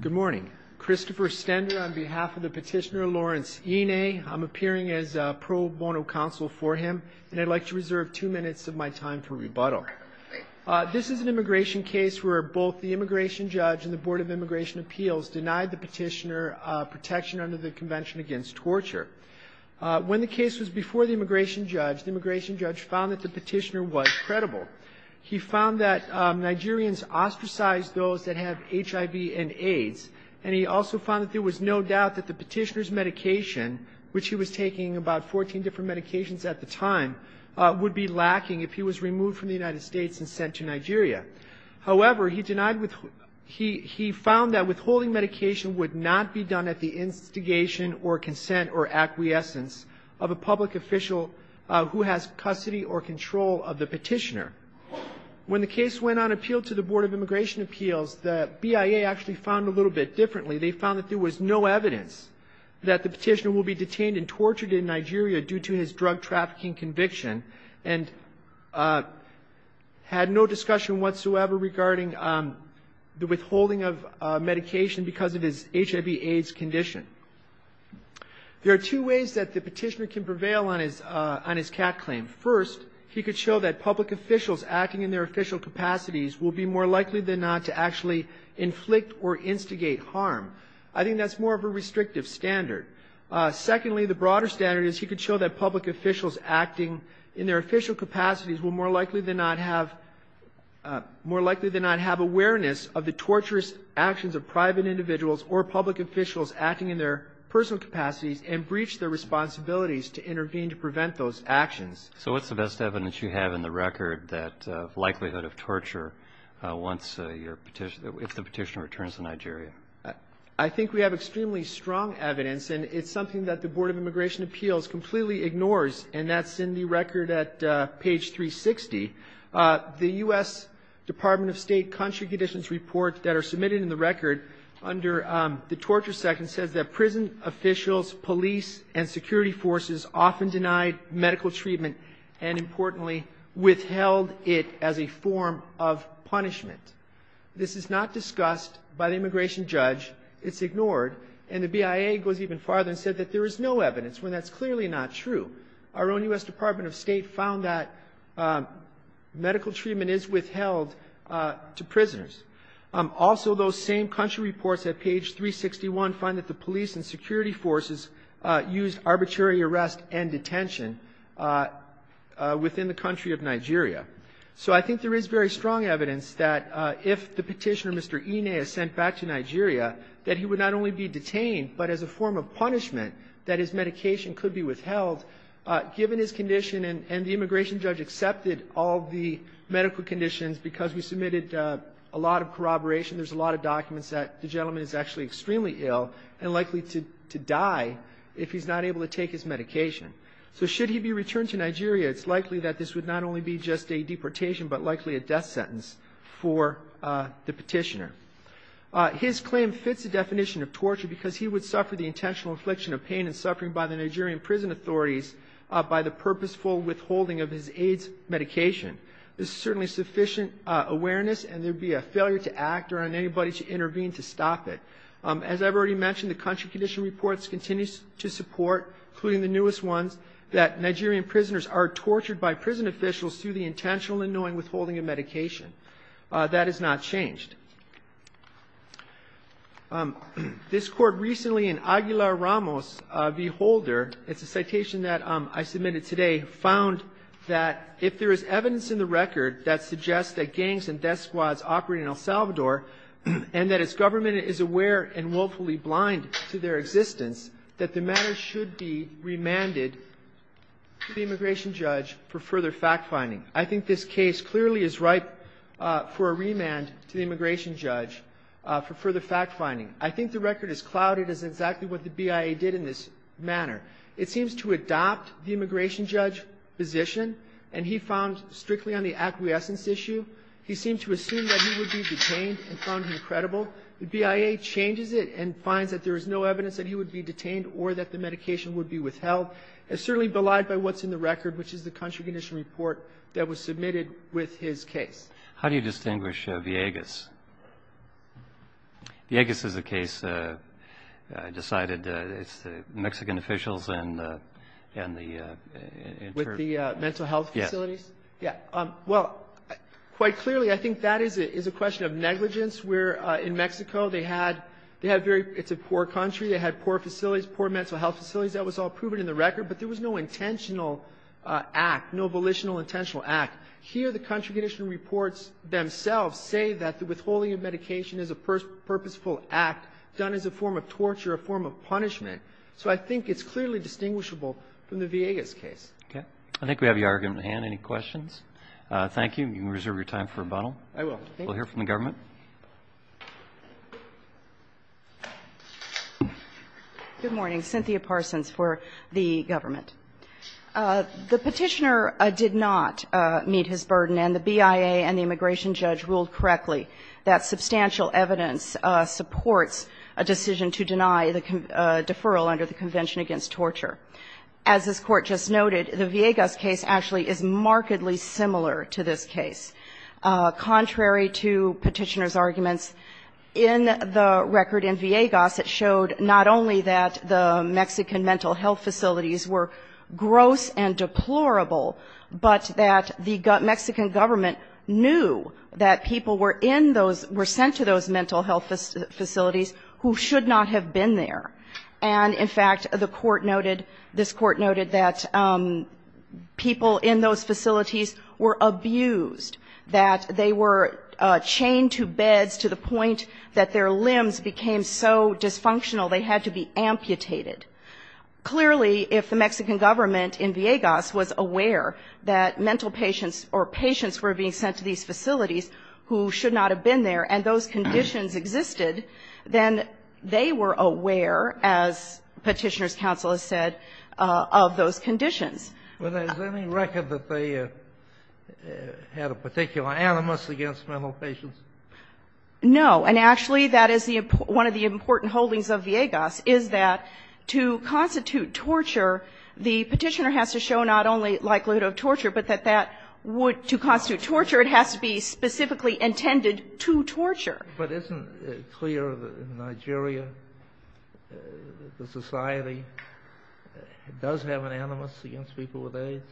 Good morning. Christopher Stender on behalf of the petitioner Lawrence Eneh. I'm appearing as pro bono counsel for him, and I'd like to reserve two minutes of my time for rebuttal. This is an immigration case where both the immigration judge and the Board of Immigration Appeals denied the petitioner protection under the Convention Against Torture. When the case was before the immigration judge, the immigration judge found that the petitioner was credible. He found that Nigerians ostracized those that have HIV and AIDS, and he also found that there was no doubt that the petitioner's medication, which he was taking about 14 different medications at the time, would be lacking if he was removed from the United States and sent to Nigeria. However, he denied with – he found that withholding medication would not be done at the instigation or consent or acquiescence of a public official who has custody or control of the petitioner. When the case went on appeal to the Board of Immigration Appeals, the BIA actually found a little bit differently. They found that there was no evidence that the petitioner will be detained and tortured in Nigeria due to his drug trafficking conviction and had no discussion whatsoever regarding the withholding of medication because of his HIV-AIDS condition. There are two ways that the petitioner can prevail on his – on his claim. First, he can show that public officials acting in their official capacities will be more likely than not to actually inflict or instigate harm. I think that's more of a restrictive standard. Secondly, the broader standard is he could show that public officials acting in their official capacities will more likely than not have – more likely than not have awareness of the torturous actions of private individuals or public officials acting in their personal capacities and breach their responsibilities to intervene to prevent those actions. So what's the best evidence you have in the record that likelihood of torture once your petition – if the petitioner returns to Nigeria? I think we have extremely strong evidence, and it's something that the Board of Immigration Appeals completely ignores, and that's in the record at page 360. The U.S. Department of State Country Conditions Report that are submitted in the record under the Torture Act says that prison officials, police, and security forces often denied medical treatment and, importantly, withheld it as a form of punishment. This is not discussed by the immigration judge. It's ignored. And the BIA goes even farther and said that there is no evidence, when that's clearly not true. Our own U.S. Department of State found that medical treatment is withheld to prisoners. Also, those same country reports at page 361 find that the police and security forces used arbitrary arrest and detention within the country of Nigeria. So I think there is very strong evidence that if the petitioner, Mr. Ine, is sent back to Nigeria, that he would not only be detained, but as a form of punishment that his medication could be withheld, given his condition, and the immigration judge accepted all the medical conditions because we submitted a lot of corroboration. There's a lot of documents that the gentleman is actually extremely ill and likely to die if he's not able to take his medication. So should he be returned to Nigeria, it's likely that this would not only be just a deportation, but likely a death sentence for the petitioner. His claim fits the definition of torture because he would suffer the intentional infliction of pain and suffering by the Nigerian prison authorities by the purposeful withholding of his AIDS medication. This is certainly sufficient awareness, and there'd be a failure to act or on anybody to intervene to stop it. As I've already mentioned, the country condition reports continue to support, including the newest ones, that Nigerian prisoners are tortured by prison officials through the intentional and annoying withholding of medication. That has not changed. This Court recently in Aguilar-Ramos v. Holder, it's a citation that I submitted today, found that if there is evidence in the record that suggests that gangs and death squads operate in El Salvador, and that its government is aware and willfully blind to their existence, that the matter should be remanded to the immigration judge for further fact-finding. I think this case clearly is ripe for a remand to the immigration judge for further fact-finding. I think the record is clouded as exactly what the BIA did in this manner. It seems to adopt the immigration judge position, and he found strictly on the acquiescence issue. He seemed to assume that he would be detained and found him credible. The BIA changes it and finds that there is no evidence that he would be detained or that the medication would be withheld. It's certainly belied by what's in the record, which is the country condition report that was submitted with his case. How do you distinguish Villegas? Villegas is a case decided, it's the Mexican officials and the... With the mental health facilities? Yes. Yeah. Well, quite clearly, I think that is a question of negligence, where in Mexico they had very, it's a poor country, they had poor facilities, poor mental health facilities. That was all proven in the record, but there was no intentional act, no volitional intentional act. Here, the country condition reports themselves say that the withholding of medication is a purposeful act done as a form of torture, a form of punishment. So I think it's clearly distinguishable from the Villegas case. Okay. I think we have your argument at hand. Any questions? Thank you. You can reserve your time for rebuttal. I will. Thank you. We'll hear from the government. Good morning. Cynthia Parsons for the government. The Petitioner did not meet his burden, and the BIA and the immigration judge ruled correctly that substantial evidence supports a decision to deny the deferral under the Convention Against Torture. As this Court just noted, the Villegas case actually is markedly similar to this case. Contrary to Petitioner's arguments, in the record in Villegas it showed not only that the Mexican mental health facilities were gross and deplorable, but that the Mexican government knew that people were in those, were sent to those mental health facilities who should not have been there. And, in fact, the Court noted, this Court noted that people in those facilities were abused, that they were chained to beds to the point that their limbs became so dysfunctional they had to be amputated. Clearly, if the Mexican government in Villegas was aware that mental patients or patients were being sent to these facilities who should not have been there and those conditions existed, then they were aware, as Petitioner's counsel has said, of those conditions. But is there any record that they had a particular animus against mental patients? No. And, actually, that is one of the important holdings of Villegas, is that to constitute torture, the Petitioner has to show not only likelihood of torture, but that that would be, to constitute torture, it has to be specifically intended to torture. But isn't it clear that in Nigeria the society does have an animus against people with AIDS?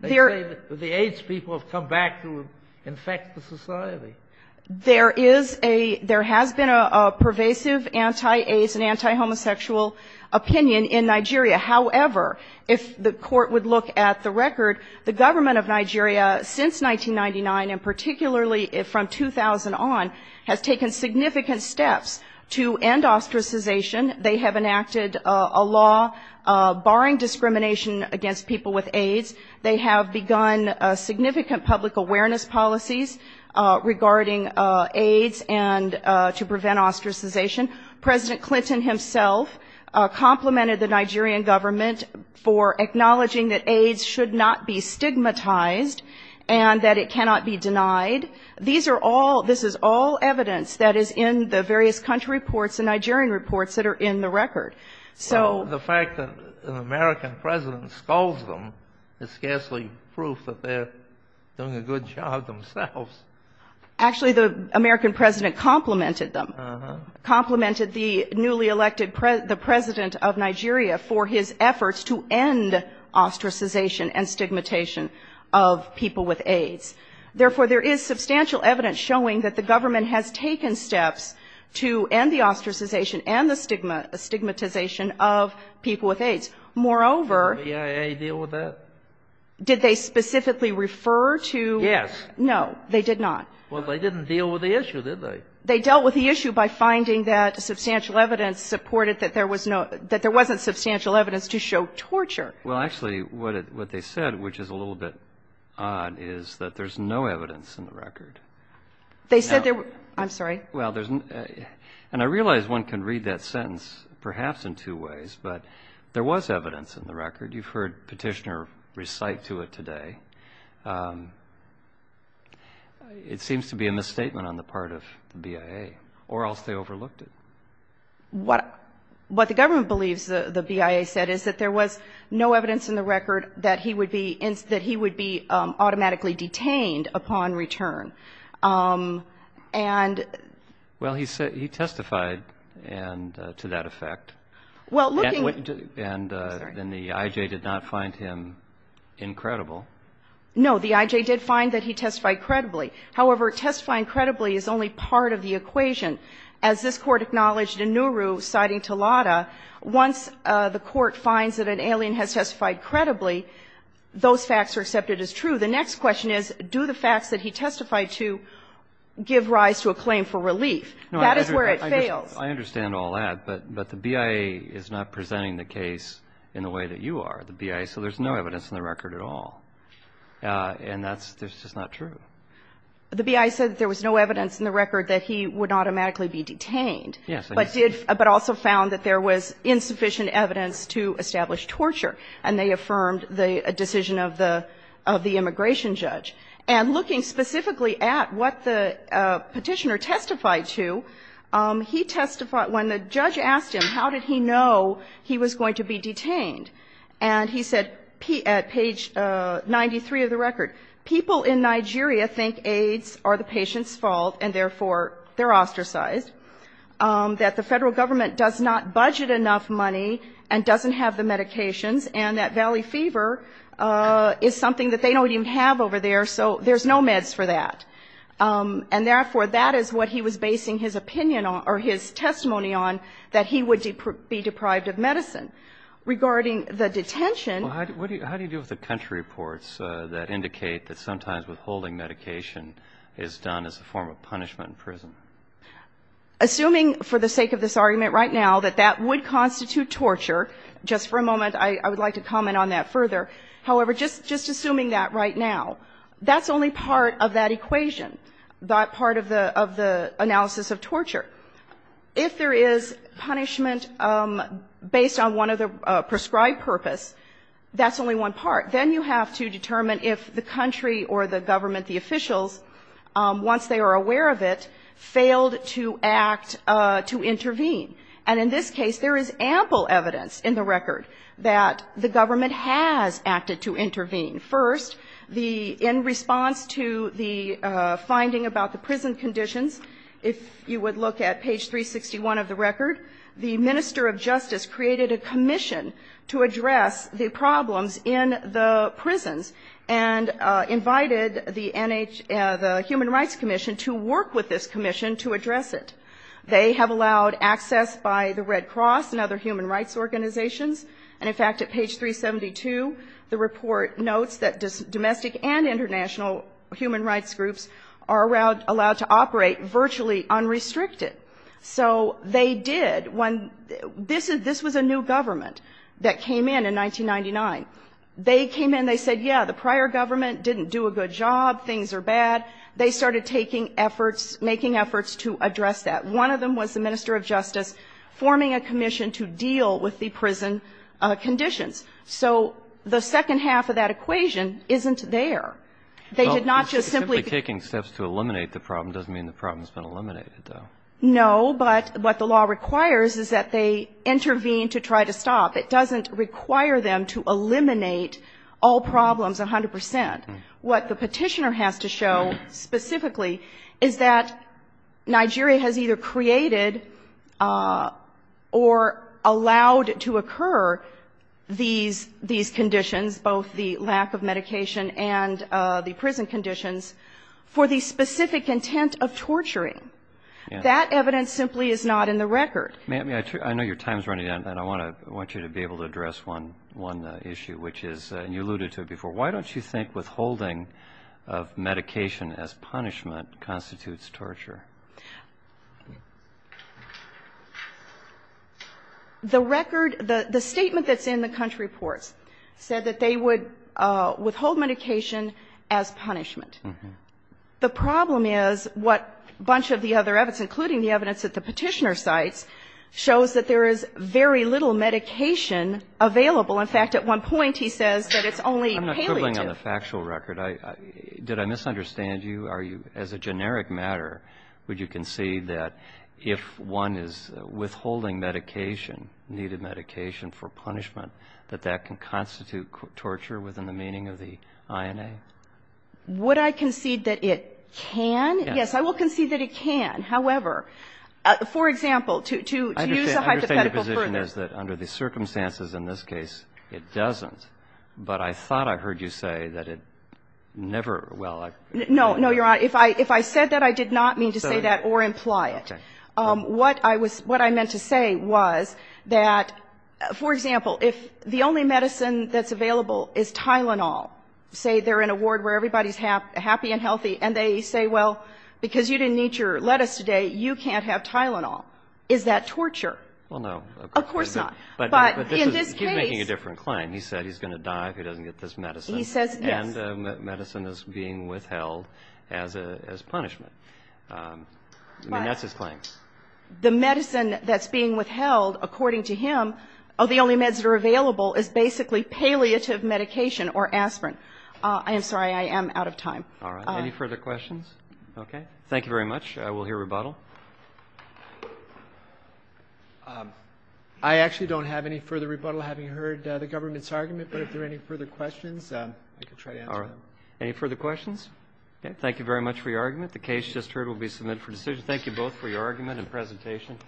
They say that the AIDS people have come back to infect the society. There is a, there has been a pervasive anti-AIDS and anti-homosexual opinion in Nigeria. However, if the court would look at the record, the government of Nigeria, since 1999, and particularly from 2000 on, has taken significant steps to end ostracization. They have enacted a law barring discrimination against people with AIDS. They have begun significant public awareness policies regarding AIDS and to prevent ostracization. President Clinton himself complimented the Nigerian government for acknowledging that AIDS should not be stigmatized and that it cannot be denied. These are all, this is all evidence that is in the various country reports and Nigerian reports that are in the record. So the fact that an American president scolds them is scarcely proof that they're doing a good job themselves. Actually, the American president complimented them, complimented the newly elected president of Nigeria for his efforts to end ostracization and stigmatization of people with AIDS. Therefore, there is substantial evidence showing that the government has taken steps to end the ostracization and the stigmatization of people with AIDS. Moreover, did they specifically refer to? Yes. No, they did not. Well, they didn't deal with the issue, did they? They dealt with the issue by finding that substantial evidence supported that there was no, that there wasn't substantial evidence to show torture. Well, actually, what they said, which is a little bit odd, is that there's no evidence in the record. They said there were, I'm sorry. Well, there's, and I realize one can read that sentence perhaps in two ways, but there was evidence in the record. You've heard Petitioner recite to it today. It seems to be a misstatement on the part of the BIA, or else they overlooked it. What the government believes the BIA said is that there was no evidence in the record that he would be automatically detained upon return. And. Well, he testified to that effect. Well, looking. I'm sorry. And then the IJ did not find him incredible. No, the IJ did find that he testified credibly. However, testifying credibly is only part of the equation. As this Court acknowledged in Nauru, citing Talata, once the Court finds that an alien has testified credibly, those facts are accepted as true. The next question is, do the facts that he testified to give rise to a claim for relief? That is where it fails. No, I understand all that, but the BIA is not presenting the case in the way that you are, the BIA, so there's no evidence in the record at all. And that's just not true. The BIA said that there was no evidence in the record that he would automatically be detained. But also found that there was insufficient evidence to establish torture, and they affirmed the decision of the immigration judge. And looking specifically at what the Petitioner testified to, he testified when the judge asked him how did he know he was going to be detained, and he said at page 93 of the record, people in Nigeria think AIDS are the patient's fault and, therefore, they're ostracized. That the Federal Government does not budget enough money and doesn't have the medications, and that Valley Fever is something that they don't even have over there, so there's no meds for that. And, therefore, that is what he was basing his opinion on, or his testimony on, that he would be deprived of medicine. Regarding the detention ---- Well, how do you deal with the country reports that indicate that sometimes withholding medication is done as a form of punishment in prison? Assuming, for the sake of this argument right now, that that would constitute torture, just for a moment, I would like to comment on that further, however, just assuming that right now, that's only part of that equation, that part of the analysis of torture. If there is punishment based on one of the prescribed purpose, that's only one part. Then you have to determine if the country or the government, the officials, once they are aware of it, failed to act to intervene. And in this case, there is ample evidence in the record that the government has acted to intervene. First, in response to the finding about the prison conditions, if you would look at page 361 of the record, the Minister of Justice created a commission to address the problems in the prisons and invited the human rights commission to work with this commission to address it. They have allowed access by the Red Cross and other human rights organizations. And in fact, at page 372, the report notes that domestic and international human rights groups are allowed to operate virtually unrestricted. So they did. This was a new government that came in, in 1999. They came in, they said, yeah, the prior government didn't do a good job, things are bad. They started taking efforts, making efforts to address that. One of them was the Minister of Justice forming a commission to deal with the prison conditions. So the second half of that equation isn't there. They did not just simply ---- But to eliminate the problem doesn't mean the problem has been eliminated, though. No, but what the law requires is that they intervene to try to stop. It doesn't require them to eliminate all problems 100 percent. What the petitioner has to show specifically is that Nigeria has either created or allowed to occur these conditions, both the lack of medication and the prison conditions, for the specific intent of torturing. That evidence simply is not in the record. I know your time is running out, and I want you to be able to address one issue, which is, and you alluded to it before, why don't you think withholding of medication as punishment constitutes torture? The record, the statement that's in the country reports said that they would withhold medication as punishment. The problem is what a bunch of the other evidence, including the evidence that the petitioner cites, shows that there is very little medication available. In fact, at one point, he says that it's only palliative. I'm not quibbling on the factual record. Would you concede that if one is withholding medication, needed medication for punishment, that that can constitute torture within the meaning of the INA? Would I concede that it can? Yes, I will concede that it can. However, for example, to use the hypothetical further. I understand your position is that under the circumstances in this case, it doesn't. But I thought I heard you say that it never. Well, no. No, you're right. If I if I said that, I did not mean to say that or imply it. What I was what I meant to say was that, for example, if the only medicine that's available is Tylenol, say they're in a ward where everybody's happy and healthy and they say, well, because you didn't need your lettuce today, you can't have Tylenol. Is that torture? Well, no. Of course not. But in this case. But he's making a different claim. He said he's going to die if he doesn't get this medicine. He says yes. And medicine is being withheld as punishment. I mean, that's his claim. The medicine that's being withheld, according to him, of the only meds that are available is basically palliative medication or aspirin. I am sorry. I am out of time. All right. Any further questions? Okay. Thank you very much. We'll hear rebuttal. I actually don't have any further rebuttal, having heard the government's argument. But if there are any further questions, I can try to answer them. All right. Any further questions? Okay. Thank you very much for your argument. The case just heard will be submitted for decision. Thank you both for your argument and presentation.